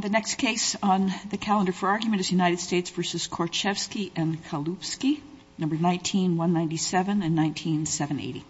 The next case on the calendar for argument is United States v. Korchevsky and Kalupsky, 19-197 and 19-780.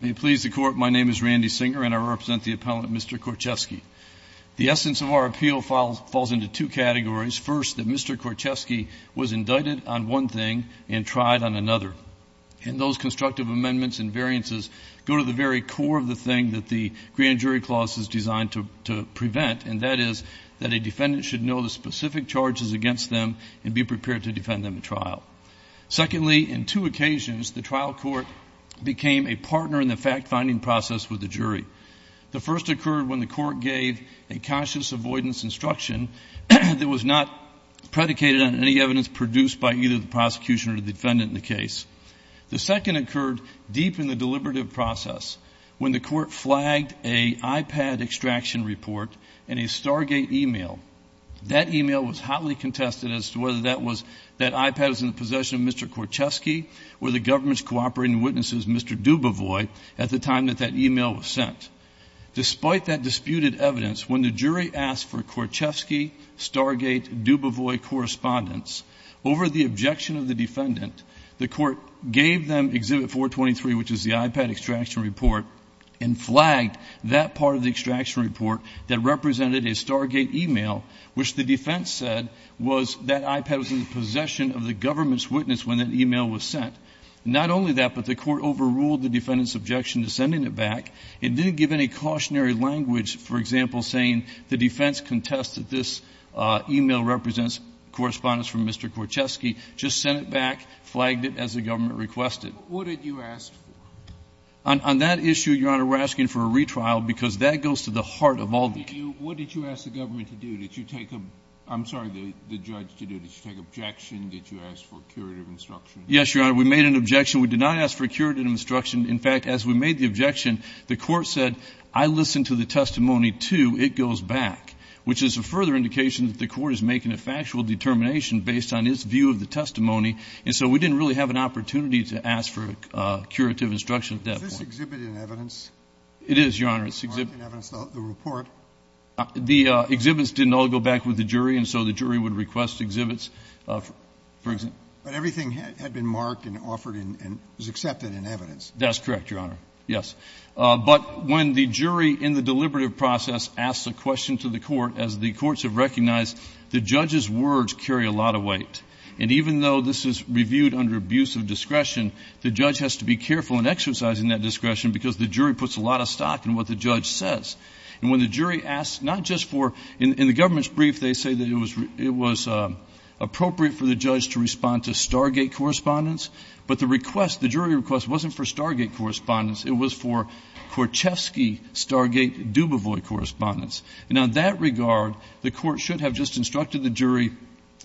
May it please the Court, my name is Randy Singer and I represent the appellant, Mr. Korchevsky. The essence of our appeal falls into two categories. First, that Mr. Korchevsky was indicted on one thing and tried on another. And those constructive amendments and variances go to the very core of the thing that the grand jury clause is designed to prevent, and that is that a defendant should know the specific charges against them and be prepared to defend them at trial. Secondly, in two occasions, the trial court became a partner in the fact-finding process with the jury. The first occurred when the court gave a conscious avoidance instruction that was not predicated on any evidence produced by either the prosecution or the defendant in the case. The second occurred deep in the deliberative process when the court flagged an iPad extraction report and a Stargate email. That email was hotly contested as to whether that iPad was in the possession of Mr. Korchevsky or the government's cooperating witnesses, Mr. Dubovoy, at the time that that email was sent. Despite that disputed evidence, when the jury asked for Korchevsky-Stargate-Dubovoy correspondence over the objection of the defendant, the court gave them Exhibit 423, which is the iPad extraction report, and flagged that part of the extraction report that represented a Stargate email, which the defense said was that iPad was in the possession of the government's witness when that email was sent. Not only that, but the court overruled the defendant's objection to sending it back. It didn't give any cautionary language, for example, saying the defense contested this email represents correspondence from Mr. Korchevsky, just sent it back, flagged it as the government requested. What did you ask for? On that issue, Your Honor, we're asking for a retrial, because that goes to the heart of all the cases. What did you ask the government to do? Did you take a — I'm sorry, the judge to do. Did you take objection? Did you ask for a curative instruction? Yes, Your Honor. We made an objection. We did not ask for a curative instruction. In fact, as we made the objection, the court said, I listened to the testimony, too. It goes back, which is a further indication that the court is making a factual determination based on its view of the testimony, and so we didn't really have an opportunity to ask for curative instruction at that point. Is this Exhibit in evidence? It is, Your Honor. It's Exhibit in evidence, the report. The exhibits didn't all go back with the jury, and so the jury would request exhibits, for example. But everything had been marked and offered and was accepted in evidence. That's correct, Your Honor, yes. But when the jury in the deliberative process asks a question to the court, as the courts have recognized, the judge's words carry a lot of weight. And even though this is reviewed under abuse of discretion, the judge has to be careful in exercising that discretion, because the jury puts a lot of stock in what the judge says. And when the jury asks, not just for—in the government's brief, they say that it was appropriate for the judge to respond to Stargate correspondence, but the request, the jury request, wasn't for Stargate correspondence. It was for Korchevsky-Stargate-Dubovoy correspondence. And on that regard, the court should have just instructed the jury,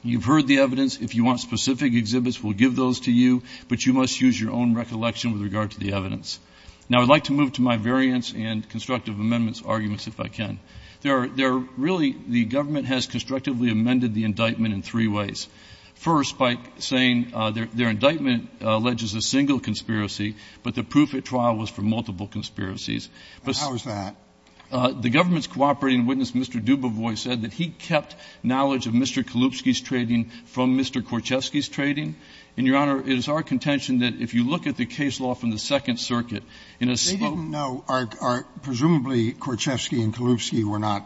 you've heard the evidence. If you want specific exhibits, we'll give those to you, but you must use your own recollection with regard to the evidence. Now, I'd like to move to my variance and constructive amendments arguments, if I can. There are really — the government has constructively amended the indictment in three ways. First, by saying their indictment alleges a single conspiracy, but the proof at trial was for multiple conspiracies. But— And how is that? The government's cooperating witness, Mr. Dubovoy, said that he kept knowledge of Mr. Kalubsky's trading from Mr. Korchesky's trading. And, Your Honor, it is our contention that if you look at the case law from the Second Circuit, in a spoken— They didn't know. Presumably, Korchesky and Kalubsky were not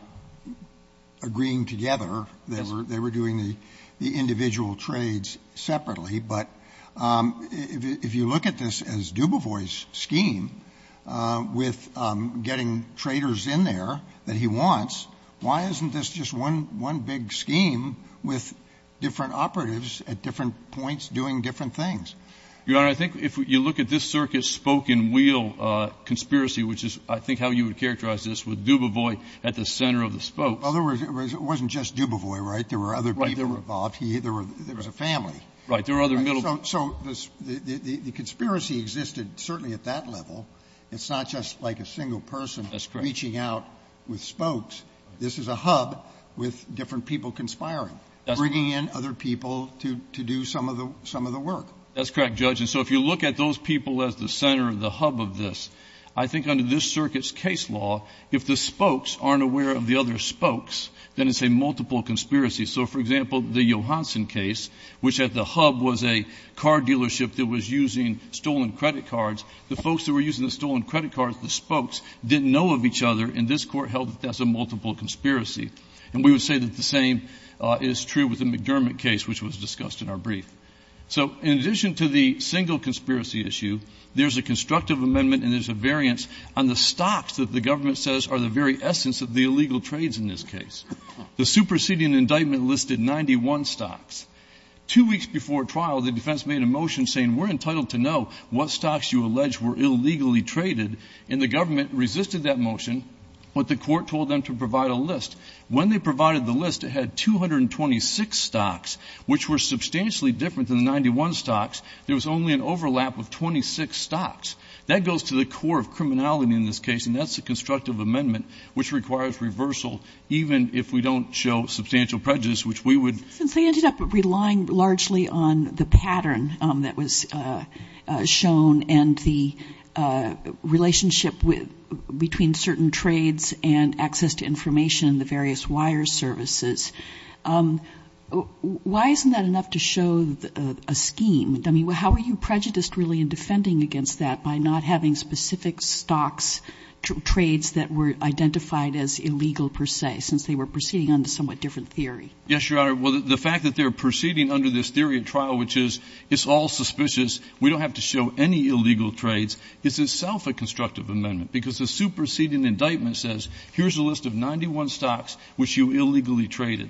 agreeing together. Yes. They were doing the individual trades separately. But if you look at this as Dubovoy's scheme with getting traders in there that he wants, why isn't this just one big scheme with different operatives at different points doing different things? Your Honor, I think if you look at this circuit's spoken wheel conspiracy, which is, I think, how you would characterize this, with Dubovoy at the center of the spokes— In other words, it wasn't just Dubovoy, right? There were other people involved. There was a family. Right. There were other middle— So the conspiracy existed certainly at that level. It's not just like a single person— That's correct. —reaching out with spokes. This is a hub with different people conspiring, bringing in other people to do some of the work. That's correct, Judge. And so if you look at those people as the center, the hub of this, I think under this circuit's case law, if the spokes aren't aware of the other spokes, then it's a multiple conspiracy. So, for example, the Johanson case, which at the hub was a car dealership that was using stolen credit cards. The folks that were using the stolen credit cards, the spokes, didn't know of each other. And this Court held that that's a multiple conspiracy. And we would say that the same is true with the McDermott case, which was discussed in our brief. So in addition to the single conspiracy issue, there's a constructive amendment and there's a variance on the stocks that the government says are the very essence of the illegal trades in this case. The superseding indictment listed 91 stocks. Two weeks before trial, the defense made a motion saying we're entitled to know what stocks you allege were illegally traded. And the government resisted that motion, but the Court told them to provide a list. When they provided the list, it had 226 stocks, which were substantially different than the 91 stocks. There was only an overlap of 26 stocks. That goes to the core of criminality in this case, and that's a constructive amendment, which requires reversal, even if we don't show substantial prejudice, which we would. Since they ended up relying largely on the pattern that was shown and the relationship between certain trades and access to information in the various wire services, why isn't that enough to show a scheme? I mean, how are you prejudiced really in defending against that by not having specific stocks, trades that were identified as illegal per se, since they were proceeding under a somewhat different theory? Yes, Your Honor. Well, the fact that they're proceeding under this theory of trial, which is it's all superseding indictment says, here's a list of 91 stocks which you illegally traded.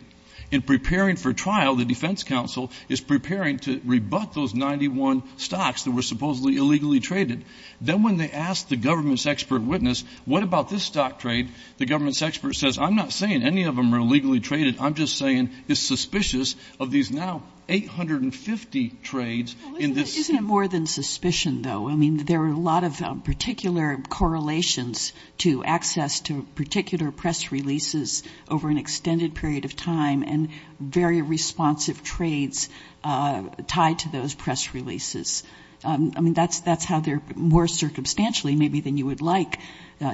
In preparing for trial, the defense counsel is preparing to rebut those 91 stocks that were supposedly illegally traded. Then when they asked the government's expert witness, what about this stock trade, the government's expert says, I'm not saying any of them are illegally traded. I'm just saying it's suspicious of these now 850 trades in this. Well, isn't it more than suspicion, though? I mean, there are a lot of particular correlations to access to particular press releases over an extended period of time and very responsive trades tied to those press releases. I mean, that's how they're more circumstantially maybe than you would like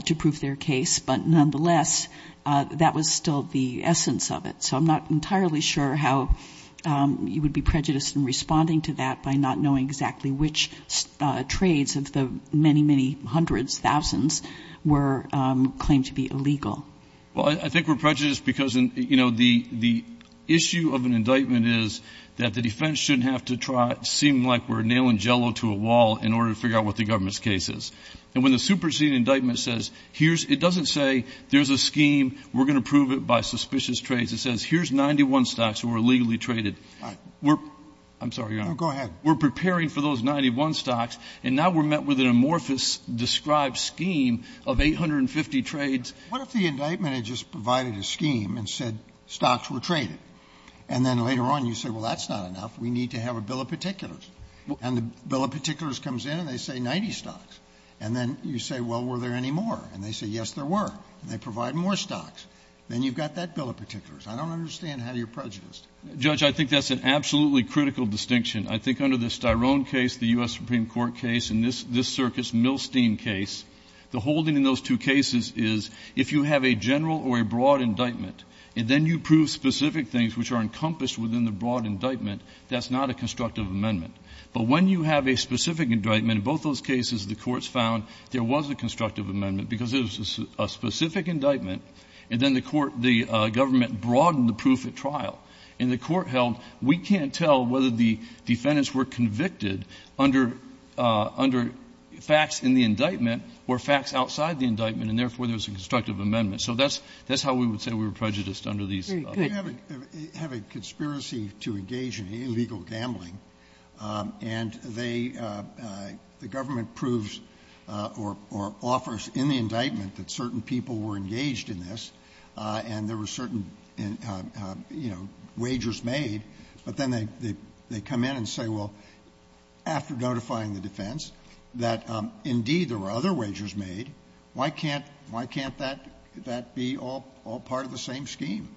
to prove their case, but nonetheless, that was still the essence of it. So I'm not entirely sure how you would be prejudiced in responding to that by not knowing exactly which trades of the many, many hundreds, thousands were claimed to be illegal. Well, I think we're prejudiced because, you know, the issue of an indictment is that the defense shouldn't have to seem like we're nailing jello to a wall in order to figure out what the government's case is. And when the superseding indictment says here's it doesn't say there's a scheme. We're going to prove it by suspicious trades. It says here's 91 stocks were illegally traded. We're I'm sorry. Go ahead. We're preparing for those 91 stocks. And now we're met with an amorphous described scheme of 850 trades. What if the indictment had just provided a scheme and said stocks were traded? And then later on you say, well, that's not enough. We need to have a bill of particulars. And the bill of particulars comes in and they say 90 stocks. And then you say, well, were there any more? And they say, yes, there were. And they provide more stocks. Then you've got that bill of particulars. I don't understand how you're prejudiced. Judge, I think that's an absolutely critical distinction. I think under the Styrone case, the U.S. Supreme Court case, and this circuit's Milstein case, the holding in those two cases is if you have a general or a broad indictment and then you prove specific things which are encompassed within the broad indictment, that's not a constructive amendment. But when you have a specific indictment, in both those cases, the courts found there was a constructive amendment because it was a specific indictment, and then the government broadened the proof at trial. And the court held, we can't tell whether the defendants were convicted under facts in the indictment or facts outside the indictment, and therefore there's a constructive amendment. So that's how we would say we were prejudiced under these. Sotomayor, you have a conspiracy to engage in illegal gambling. And they, the government proves or offers in the indictment that certain people were engaged in this and there were certain, you know, wagers made, but then they come in and say, well, after notifying the defense that, indeed, there were other wagers made, why can't that be all part of the same scheme?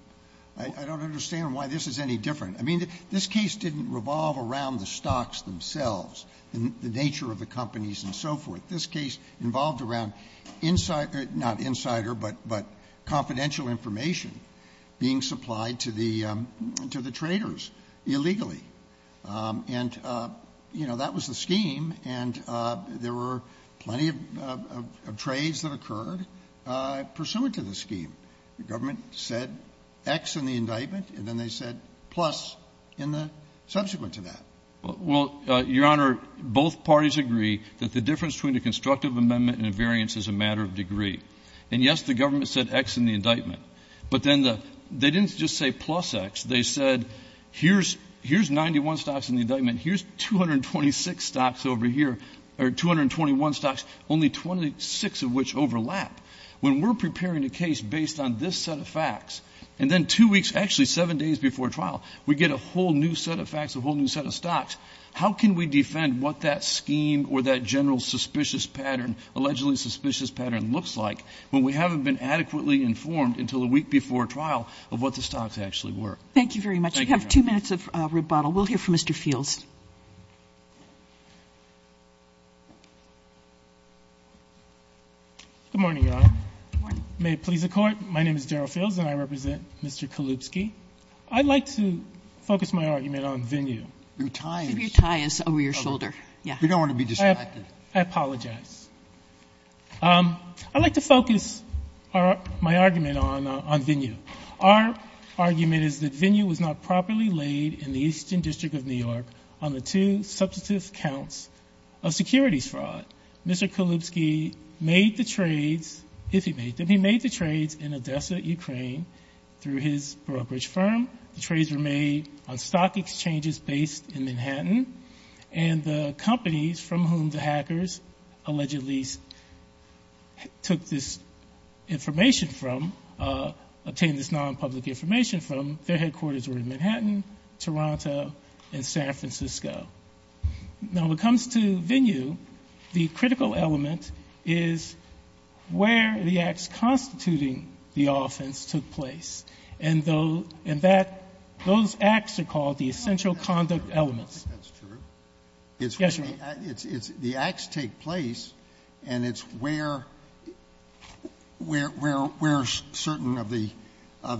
I don't understand why this is any different. I mean, this case didn't revolve around the stocks themselves, the nature of the companies and so forth. This case involved around insider, not insider, but confidential information being supplied to the traders illegally. And, you know, that was the scheme, and there were plenty of trades that occurred pursuant to the scheme. The government said X in the indictment, and then they said plus in the subsequent to that. Well, Your Honor, both parties agree that the difference between a constructive amendment and a variance is a matter of degree. And, yes, the government said X in the indictment, but then they didn't just say plus X. They said, here's 91 stocks in the indictment. Here's 226 stocks over here, or 221 stocks, only 26 of which overlap. When we're preparing a case based on this set of facts, and then two weeks, actually seven days before trial, we get a whole new set of facts, a whole new set of stocks, how can we defend what that scheme or that general suspicious pattern, allegedly suspicious pattern, looks like when we haven't been adequately informed until a week before trial of what the stocks actually were? Thank you very much. Thank you, Your Honor. We have two minutes of rebuttal. We'll hear from Mr. Fields. Good morning, Your Honor. Good morning. May it please the Court, my name is Daryl Fields and I represent Mr. Kalubsky. I'd like to focus my argument on Venue. Your tie is over your shoulder. Yeah. We don't want to be distracted. I apologize. I'd like to focus my argument on Venue. Our argument is that Venue was not properly laid in the Eastern District of New York on the two substantive counts of securities fraud. Mr. Kalubsky made the trades, if he made them, he made the trades in Odessa, Ukraine through his brokerage firm. The trades were made on stock exchanges based in Manhattan and the companies from whom the hackers allegedly took this information from, obtained this non-public information from, their headquarters were in Manhattan, Toronto, and San Francisco. Now, when it comes to Venue, the critical element is where the acts constituting the offense took place. And those acts are called the essential conduct elements. That's true. Yes, Your Honor. The acts take place and it's where certain of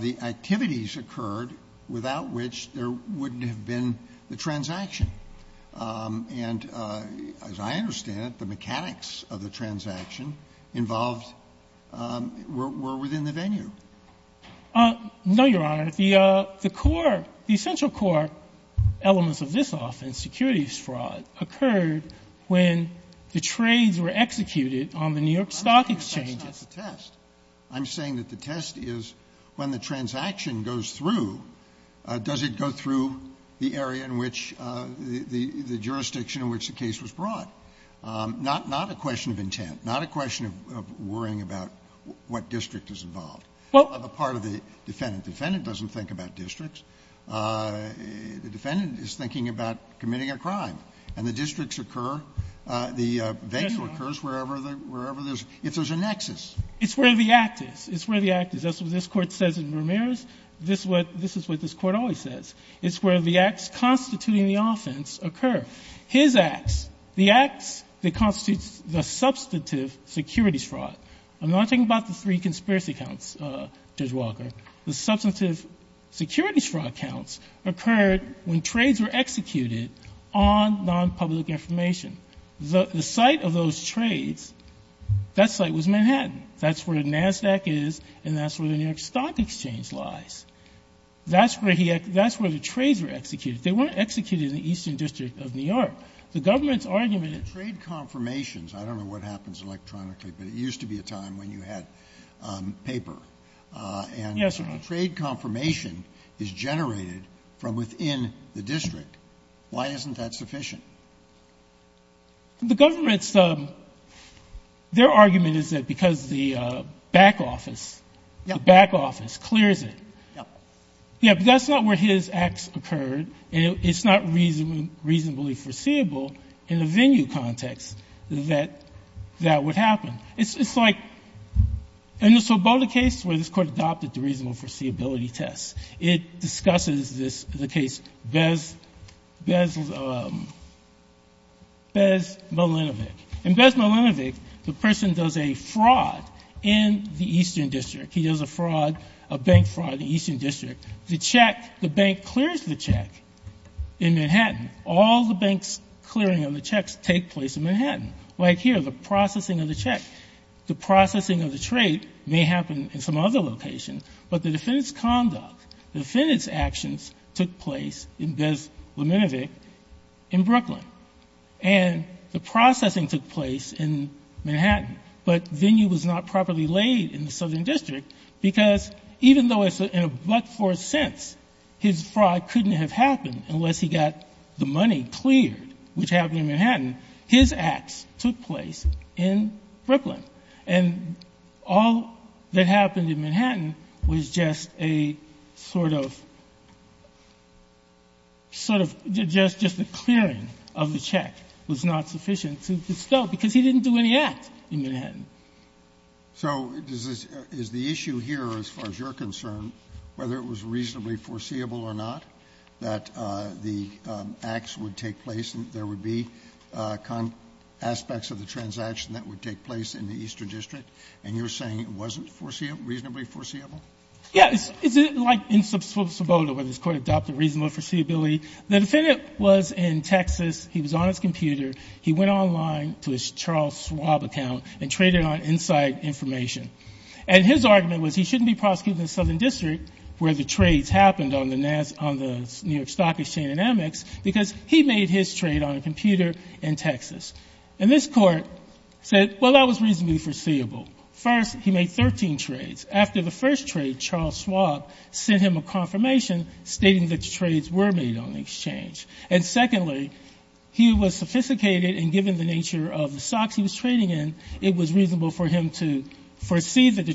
the activities occurred without which there wouldn't have been the transaction. And as I understand it, the mechanics of the transaction involved were within the Venue. No, Your Honor. The core, the essential core elements of this offense, securities fraud, occurred when the trades were executed on the New York stock exchanges. That's not the test. I'm saying that the test is when the transaction goes through, does it go through the area in which the jurisdiction in which the case was brought? Not a question of intent. Not a question of worrying about what district is involved. Well, the part of the defendant. The defendant doesn't think about districts. The defendant is thinking about committing a crime. And the districts occur, the venture occurs wherever there's, if there's a nexus. It's where the act is. It's where the act is. That's what this Court says in Ramirez. This is what this Court always says. It's where the acts constituting the offense occur. His acts, the acts that constitutes the substantive securities fraud. I'm not talking about the three conspiracy counts, Judge Walker. The substantive securities fraud counts occurred when trades were executed on non-public information. The site of those trades, that site was Manhattan. That's where NASDAQ is, and that's where the New York Stock Exchange lies. That's where he, that's where the trades were executed. They weren't executed in the Eastern District of New York. The government's argument is. The trade confirmations, I don't know what happens electronically, but it used to be a time when you had paper. Yes, Your Honor. And trade confirmation is generated from within the district. Why isn't that sufficient? The government's, their argument is that because the back office, the back office clears it. Yeah. Yeah, but that's not where his acts occurred, and it's not reasonably foreseeable in the venue context that that would happen. It's like, in the Sobota case where this Court adopted the reasonable foreseeability test, it discusses this, the case Bez, Bez, Bez Malinovic. In Bez Malinovic, the person does a fraud in the Eastern District. He does a fraud, a bank fraud in the Eastern District. The check, the bank clears the check in Manhattan. All the banks clearing on the checks take place in Manhattan. Like here, the processing of the check. The processing of the trade may happen in some other location, but the defendant's conduct, the defendant's actions took place in Bez Malinovic in Brooklyn. And the processing took place in Manhattan, but venue was not properly laid in the Southern District because even though it's in a but-for sense, his fraud couldn't have happened unless he got the money cleared, which happened in Manhattan. His acts took place in Brooklyn. And all that happened in Manhattan was just a sort of, sort of just a clearing of the check was not sufficient to distill, because he didn't do any act in Manhattan. So is the issue here, as far as you're concerned, whether it was reasonably foreseeable or not, that the acts would take place and there would be aspects of the transaction that would take place in the Eastern District, and you're saying it wasn't foreseeable, reasonably foreseeable? Yes. It's like in sub suboda where this Court adopted reasonable foreseeability. The defendant was in Texas. He was on his computer. He went online to his Charles Schwab account and traded on inside information. And his argument was he shouldn't be prosecuted in the Southern District where the trades happened on the New York Stock Exchange and Amex because he made his trade on a computer in Texas. And this Court said, well, that was reasonably foreseeable. First, he made 13 trades. After the first trade, Charles Schwab sent him a confirmation stating that the trades were made on the exchange. And secondly, he was sophisticated, and given the nature of the stocks he was trading in, it was reasonable for him to foresee that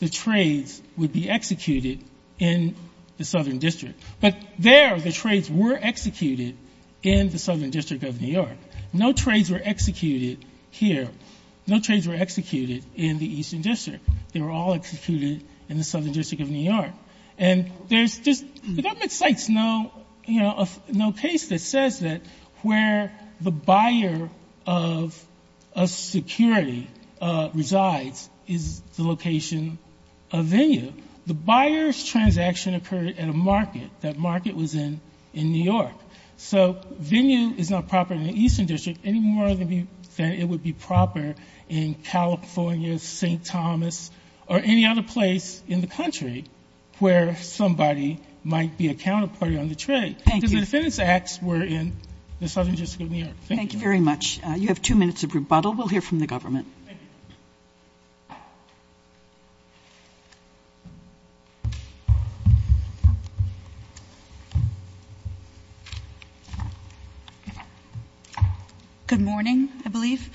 the trades would be executed in the Southern District. But there the trades were executed in the Southern District of New York. No trades were executed here. No trades were executed in the Eastern District. They were all executed in the Southern District of New York. And there's just the government cites no, you know, no case that says that where the buyer of a security resides is the location of venue. The buyer's transaction occurred at a market. That market was in New York. So venue is not proper in the Eastern District any more than it would be proper in California, St. Thomas, or any other place in the country where somebody might be a counterparty on the trade. Thank you. Because the defendants' acts were in the Southern District of New York. Thank you. Thank you very much. You have two minutes of rebuttal. We'll hear from the government. Thank you. Good morning, I believe.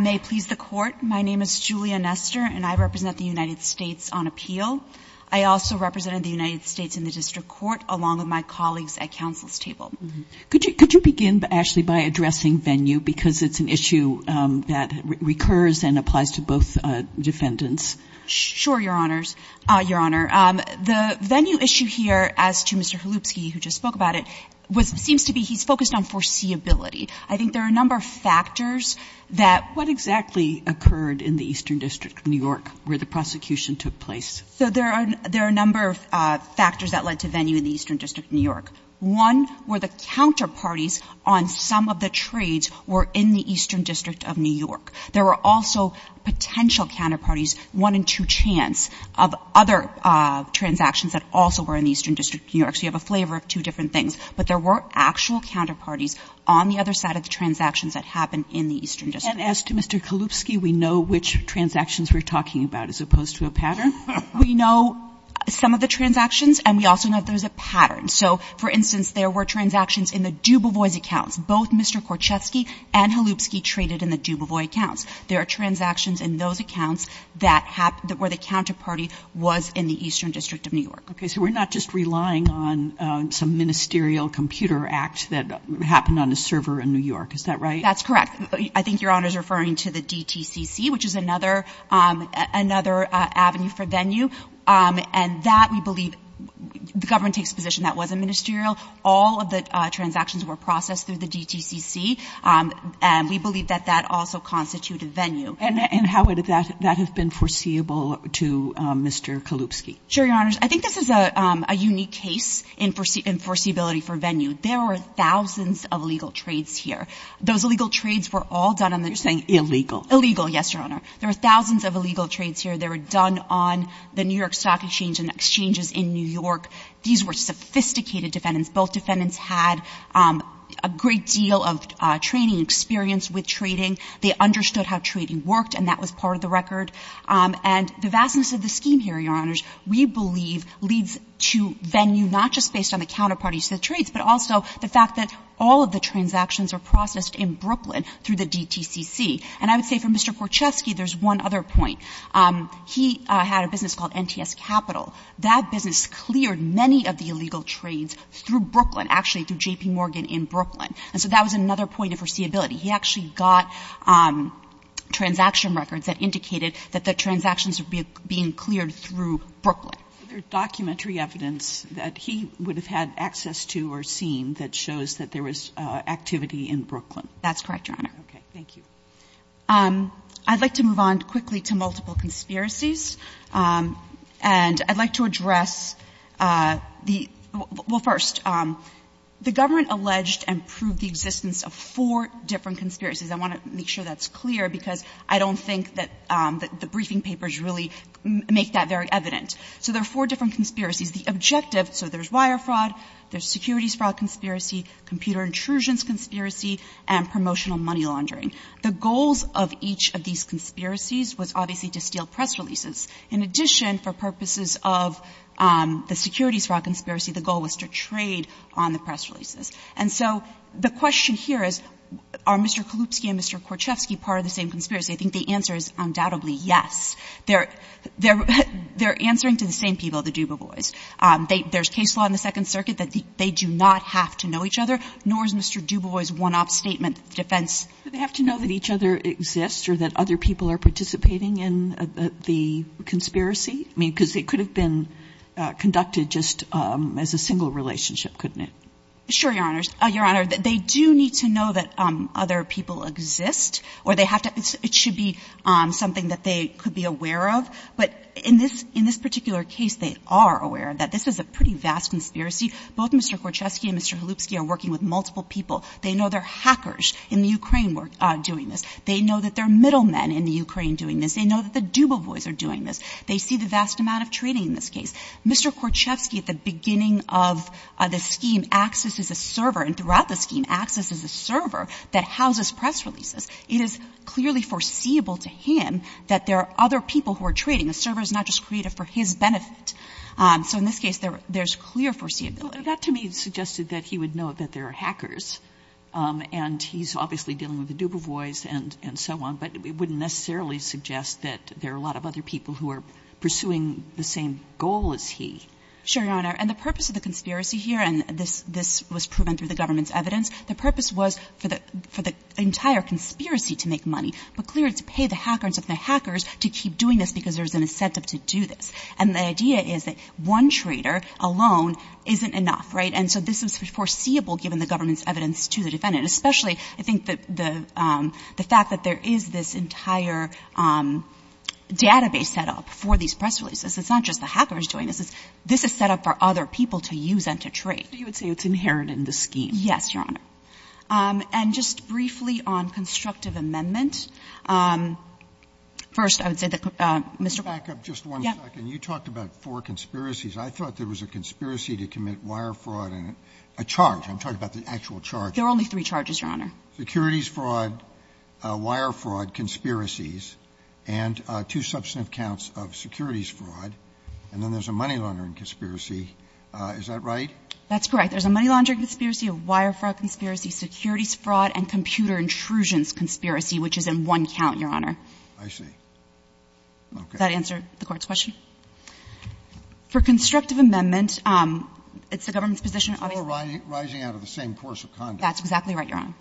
May it please the Court, my name is Julia Nestor, and I represent the United States on appeal. I also represent the United States in the district court along with my colleagues at counsel's table. Could you begin, Ashley, by addressing venue, because it's an issue that recurs and applies to both defendants? Sure, Your Honors. Your Honor, the venue issue here, as to Mr. Holupski, who just spoke about it, seems to be he's focused on foreseeability. I think there are a number of factors that What exactly occurred in the Eastern District of New York where the prosecution took place? So there are a number of factors that led to venue in the Eastern District of New York. One were the counterparties on some of the trades were in the Eastern District of New York. There were also potential counterparties, one in two chance, of other transactions that also were in the Eastern District of New York. So you have a flavor of two different things. But there were actual counterparties on the other side of the transactions that happened in the Eastern District. And as to Mr. Holupski, we know which transactions we're talking about as opposed to a pattern? We know some of the transactions, and we also know that there's a pattern. So, for instance, there were transactions in the Dubuvois accounts. Both Mr. Korchetsky and Holupski traded in the Dubuvois accounts. There are transactions in those accounts that were the counterparty was in the Eastern District of New York. Okay, so we're not just relying on some ministerial computer act that happened on a server in New York. Is that right? That's correct. I think Your Honor is referring to the DTCC, which is another avenue for venue. And that we believe the government takes a position that wasn't ministerial. All of the transactions were processed through the DTCC. And we believe that that also constituted venue. And how would that have been foreseeable to Mr. Kolupski? Sure, Your Honors. I think this is a unique case in foreseeability for venue. There were thousands of illegal trades here. Those illegal trades were all done on the news. You're saying illegal. Illegal, yes, Your Honor. There were thousands of illegal trades here. They were done on the New York Stock Exchange and exchanges in New York. These were sophisticated defendants. Both defendants had a great deal of training and experience with trading. They understood how trading worked, and that was part of the record. And the vastness of the scheme here, Your Honors, we believe leads to venue not just based on the counterparties to the trades, but also the fact that all of the transactions are processed in Brooklyn through the DTCC. And I would say for Mr. Korchesky, there's one other point. He had a business called NTS Capital. That business cleared many of the illegal trades through Brooklyn, actually through J.P. Morgan in Brooklyn. And so that was another point of foreseeability. He actually got transaction records that indicated that the transactions were being cleared through Brooklyn. Are there documentary evidence that he would have had access to or seen that shows that there was activity in Brooklyn? That's correct, Your Honor. Okay. Thank you. I'd like to move on quickly to multiple conspiracies. And I'd like to address the — well, first, the government alleged and proved the existence of four different conspiracies. I want to make sure that's clear, because I don't think that the briefing papers really make that very evident. So there are four different conspiracies. The objective — so there's wire fraud, there's securities fraud conspiracy, computer intrusions conspiracy, and promotional money laundering. The goals of each of these conspiracies was obviously to steal press releases. In addition, for purposes of the securities fraud conspiracy, the goal was to trade on the press releases. And so the question here is, are Mr. Kalupsky and Mr. Korchesky part of the same conspiracy? I think the answer is undoubtedly yes. They're answering to the same people, the Dubois. There's case law in the Second Circuit that they do not have to know each other, nor is Mr. Dubois' one-off statement defense. Do they have to know that each other exists or that other people are participating in the conspiracy? I mean, because it could have been conducted just as a single relationship, couldn't it? Sure, Your Honors. Your Honor, they do need to know that other people exist, or they have to — it should be something that they could be aware of. But in this particular case, they are aware that this is a pretty vast conspiracy. Both Mr. Korchesky and Mr. Kalupsky are working with multiple people. They know there are hackers in the Ukraine doing this. They know that there are middlemen in the Ukraine doing this. They know that the Dubois are doing this. They see the vast amount of trading in this case. Mr. Korchesky, at the beginning of the scheme, acts as a server, and throughout the scheme acts as a server that houses press releases. It is clearly foreseeable to him that there are other people who are trading. A server is not just created for his benefit. So in this case, there's clear foreseeability. But that to me suggested that he would know that there are hackers, and he's obviously dealing with the Dubois and so on. But it wouldn't necessarily suggest that there are a lot of other people who are pursuing the same goal as he. Sure, Your Honor. And the purpose of the conspiracy here, and this was proven through the government's evidence, the purpose was for the entire conspiracy to make money. But clearly to pay the hackers to keep doing this because there's an incentive to do this. And the idea is that one trader alone isn't enough, right? And so this is foreseeable given the government's evidence to the defendant, especially I think the fact that there is this entire database set up for these press releases. It's not just the hackers doing this. This is set up for other people to use and to trade. You would say it's inherent in the scheme. Yes, Your Honor. And just briefly on constructive amendment. First, I would say that Mr. Boies. Back up just one second. You talked about four conspiracies. I thought there was a conspiracy to commit wire fraud and a charge. I'm talking about the actual charge. There are only three charges, Your Honor. Securities fraud, wire fraud, conspiracies, and two substantive counts of securities fraud, and then there's a money laundering conspiracy. Is that right? That's correct. There's a money laundering conspiracy, a wire fraud conspiracy, securities fraud, and computer intrusions conspiracy, which is in one count, Your Honor. I see. Okay. Does that answer the Court's question? For constructive amendment, it's the government's position, obviously. It's all rising out of the same course of conduct. That's exactly right, Your Honor.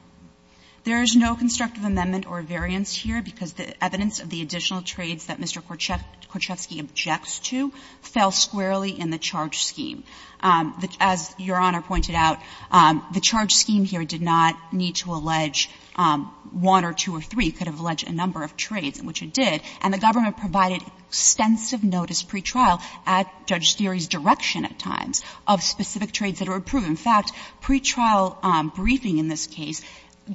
There is no constructive amendment or variance here because the evidence of the additional specific trades that Mr. Korchevsky objects to fell squarely in the charge scheme. As Your Honor pointed out, the charge scheme here did not need to allege one or two or three. It could have alleged a number of trades, which it did. And the government provided extensive notice pre-trial at Judge Steere's direction at times of specific trades that were approved. In fact, pre-trial briefing in this case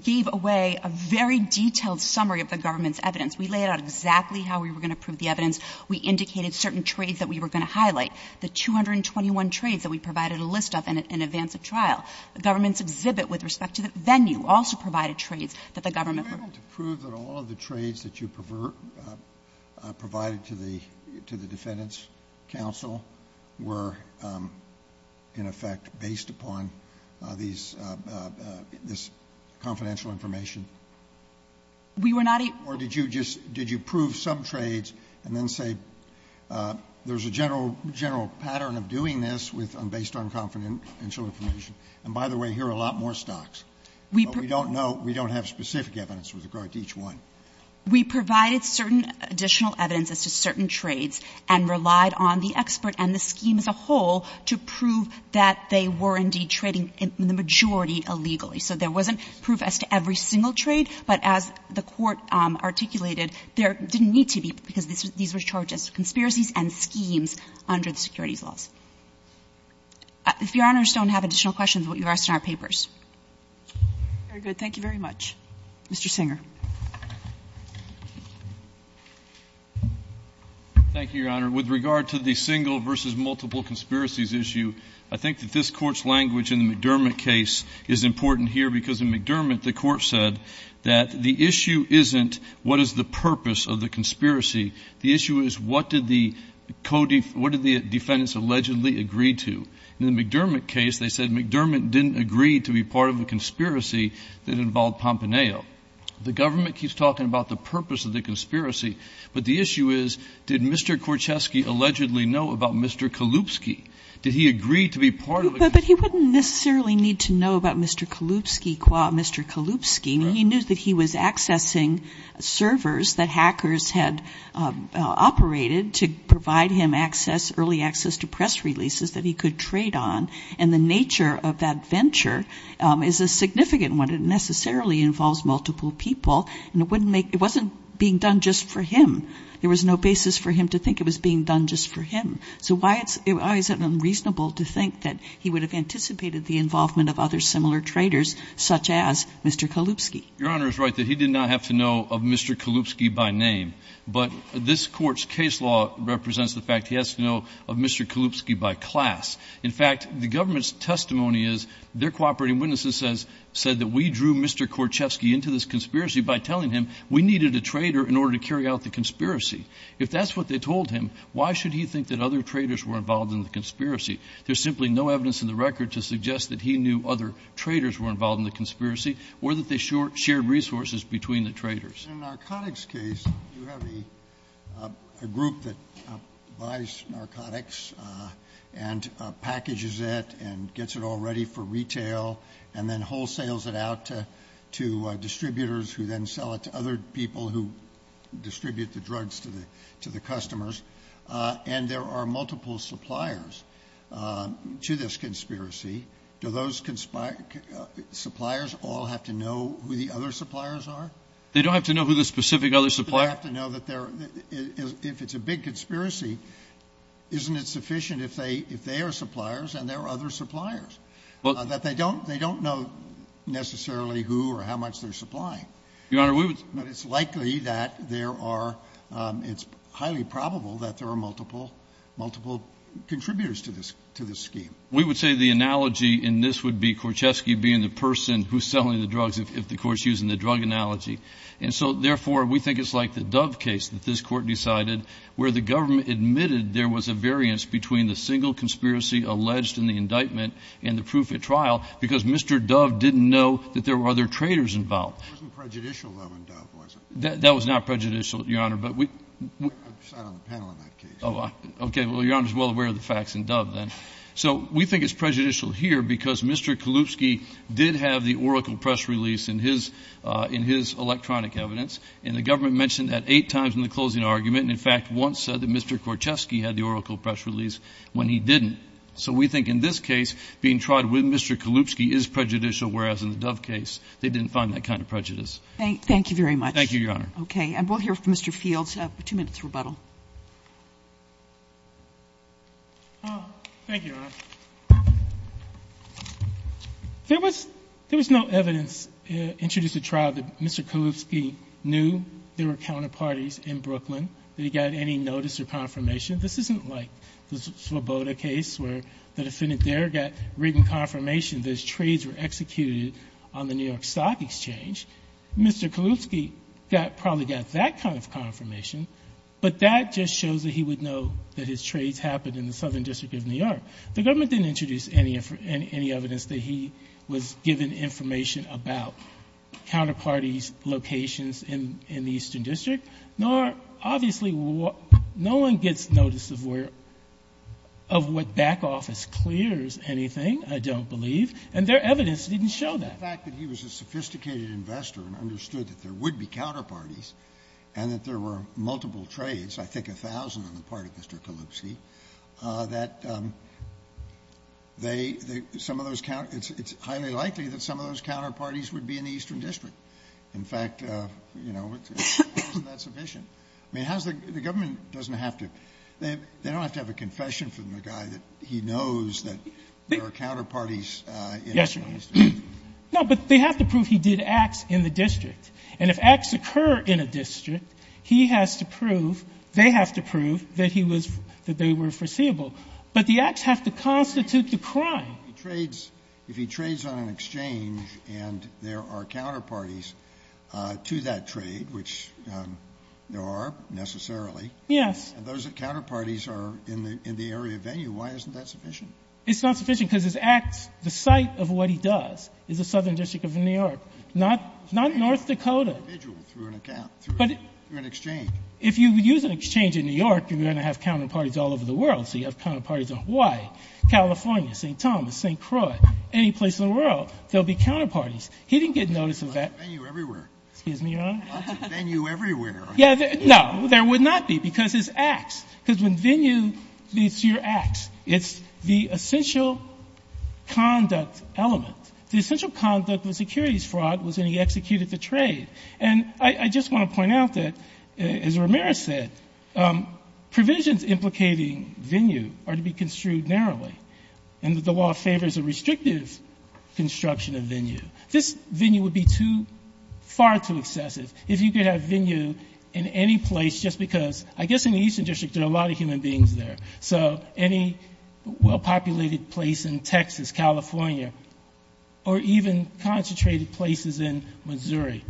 gave away a very detailed summary of the government's evidence. We laid out exactly how we were going to prove the evidence. We indicated certain trades that we were going to highlight. The 221 trades that we provided a list of in advance of trial. The government's exhibit with respect to the venue also provided trades that the government approved. Were you able to prove that all of the trades that you provided to the defendant's counsel were, in effect, based upon this confidential information? We were not able to. Or did you just, did you prove some trades and then say there's a general, general pattern of doing this with, based on confidential information? And by the way, here are a lot more stocks. But we don't know, we don't have specific evidence with regard to each one. We provided certain additional evidence as to certain trades and relied on the expert and the scheme as a whole to prove that they were indeed trading in the majority illegally. So there wasn't proof as to every single trade. But as the Court articulated, there didn't need to be, because these were charges, conspiracies and schemes under the securities laws. If Your Honors don't have additional questions, we'll leave the rest in our papers. Very good. Thank you very much. Mr. Singer. Thank you, Your Honor. With regard to the single versus multiple conspiracies issue, I think that this is important to hear, because in McDermott, the Court said that the issue isn't what is the purpose of the conspiracy. The issue is what did the defendants allegedly agree to. In the McDermott case, they said McDermott didn't agree to be part of the conspiracy that involved Pompaneo. The government keeps talking about the purpose of the conspiracy. But the issue is, did Mr. Korchesky allegedly know about Mr. Kalupski? Did he agree to be part of the conspiracy? But he wouldn't necessarily need to know about Mr. Kalupski. He knew that he was accessing servers that hackers had operated to provide him access, early access to press releases that he could trade on. And the nature of that venture is a significant one. It necessarily involves multiple people. And it wasn't being done just for him. There was no basis for him to think it was being done just for him. So why is it unreasonable to think that he would have anticipated the involvement of other similar traders, such as Mr. Kalupski? Your Honor is right that he did not have to know of Mr. Kalupski by name. But this Court's case law represents the fact he has to know of Mr. Kalupski by class. In fact, the government's testimony is their cooperating witnesses said that we drew Mr. Korchesky into this conspiracy by telling him we needed a trader in order to carry out the conspiracy. If that's what they told him, why should he think that other traders were involved in the conspiracy? There's simply no evidence in the record to suggest that he knew other traders were involved in the conspiracy or that they shared resources between the traders. In a narcotics case, you have a group that buys narcotics and packages it and gets it all ready for retail and then wholesales it out to distributors who then sell it to other people who distribute the drugs to the customers. And there are multiple suppliers to this conspiracy. Do those suppliers all have to know who the other suppliers are? They don't have to know who the specific other suppliers are. They have to know that if it's a big conspiracy, isn't it sufficient if they are suppliers and there are other suppliers, that they don't know necessarily who or how much they're supplying? Your Honor, we would But it's likely that there are, it's highly probable that there are multiple, multiple contributors to this scheme. We would say the analogy in this would be Korchesky being the person who's selling the drugs if the Court's using the drug analogy. And so, therefore, we think it's like the Dove case that this Court decided where the government admitted there was a variance between the single conspiracy alleged in the indictment and the proof at trial because Mr. Dove didn't know that there were other traders involved. It wasn't prejudicial, though, in Dove, was it? That was not prejudicial, Your Honor, but we I sat on the panel in that case. Oh, okay. Well, Your Honor's well aware of the facts in Dove, then. So we think it's prejudicial here because Mr. Kalupski did have the Oracle press release in his electronic evidence, and the government mentioned that eight times in the closing argument and, in fact, once said that Mr. Korchesky had the Oracle press release when he didn't. So we think in this case, being tried with Mr. Kalupski is prejudicial, whereas in the Thank you very much. Thank you, Your Honor. Okay. And we'll hear from Mr. Fields. Two minutes rebuttal. Thank you, Your Honor. There was no evidence introduced at trial that Mr. Kalupski knew there were counterparties in Brooklyn, that he got any notice or confirmation. This isn't like the Svoboda case where the defendant there got written confirmation that his trades were executed on the New York Stock Exchange. Mr. Kalupski probably got that kind of confirmation, but that just shows that he would know that his trades happened in the Southern District of New York. The government didn't introduce any evidence that he was given information about counterparties' locations in the Eastern District. Nor, obviously, no one gets notice of where, of what back office clears anything, I don't believe, and their evidence didn't show that. The fact that he was a sophisticated investor and understood that there would be counterparties and that there were multiple trades, I think a thousand on the part of Mr. Kalupski, that they, some of those, it's highly likely that some of those counterparties would be in the Eastern District. In fact, you know, isn't that sufficient? I mean, how's the government doesn't have to, they don't have to have a confession from the guy that he knows that there are counterparties in the Eastern District? No, but they have to prove he did acts in the district. And if acts occur in a district, he has to prove, they have to prove, that he was, that they were foreseeable. But the acts have to constitute the crime. He trades, if he trades on an exchange and there are counterparties to that trade, which there are, necessarily. Yes. And those that counterparties are in the area venue, why isn't that sufficient? It's not sufficient because his acts, the site of what he does is the Southern District of New York, not North Dakota. An individual through an account, through an exchange. If you use an exchange in New York, you're going to have counterparties all over the world. There's a policy of counterparties in Hawaii, California, St. Thomas, St. Croix, any place in the world, there'll be counterparties. He didn't get notice of that. There's a venue everywhere. Excuse me, Your Honor? There's a venue everywhere. Yeah, no, there would not be because it's acts. Because when venue leads to your acts, it's the essential conduct element. The essential conduct of a securities fraud was when he executed the trade. And I just want to point out that, as Ramirez said, provisions implicating venue are to be construed narrowly, and that the law favors a restrictive construction of venue. This venue would be far too excessive if you could have venue in any place just because, I guess, in the Eastern District there are a lot of human beings there. So any well-populated place in Texas, California, or even concentrated places in Missouri,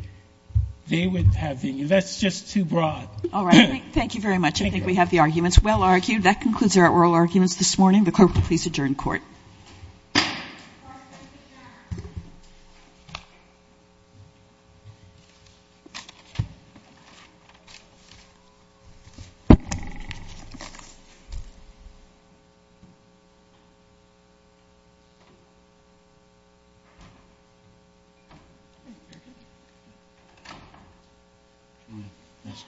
they would have venue. That's just too broad. All right. Thank you very much. I think we have the arguments well argued. That concludes our oral arguments this morning. The clerk will please adjourn court. Thank you, Your Honor.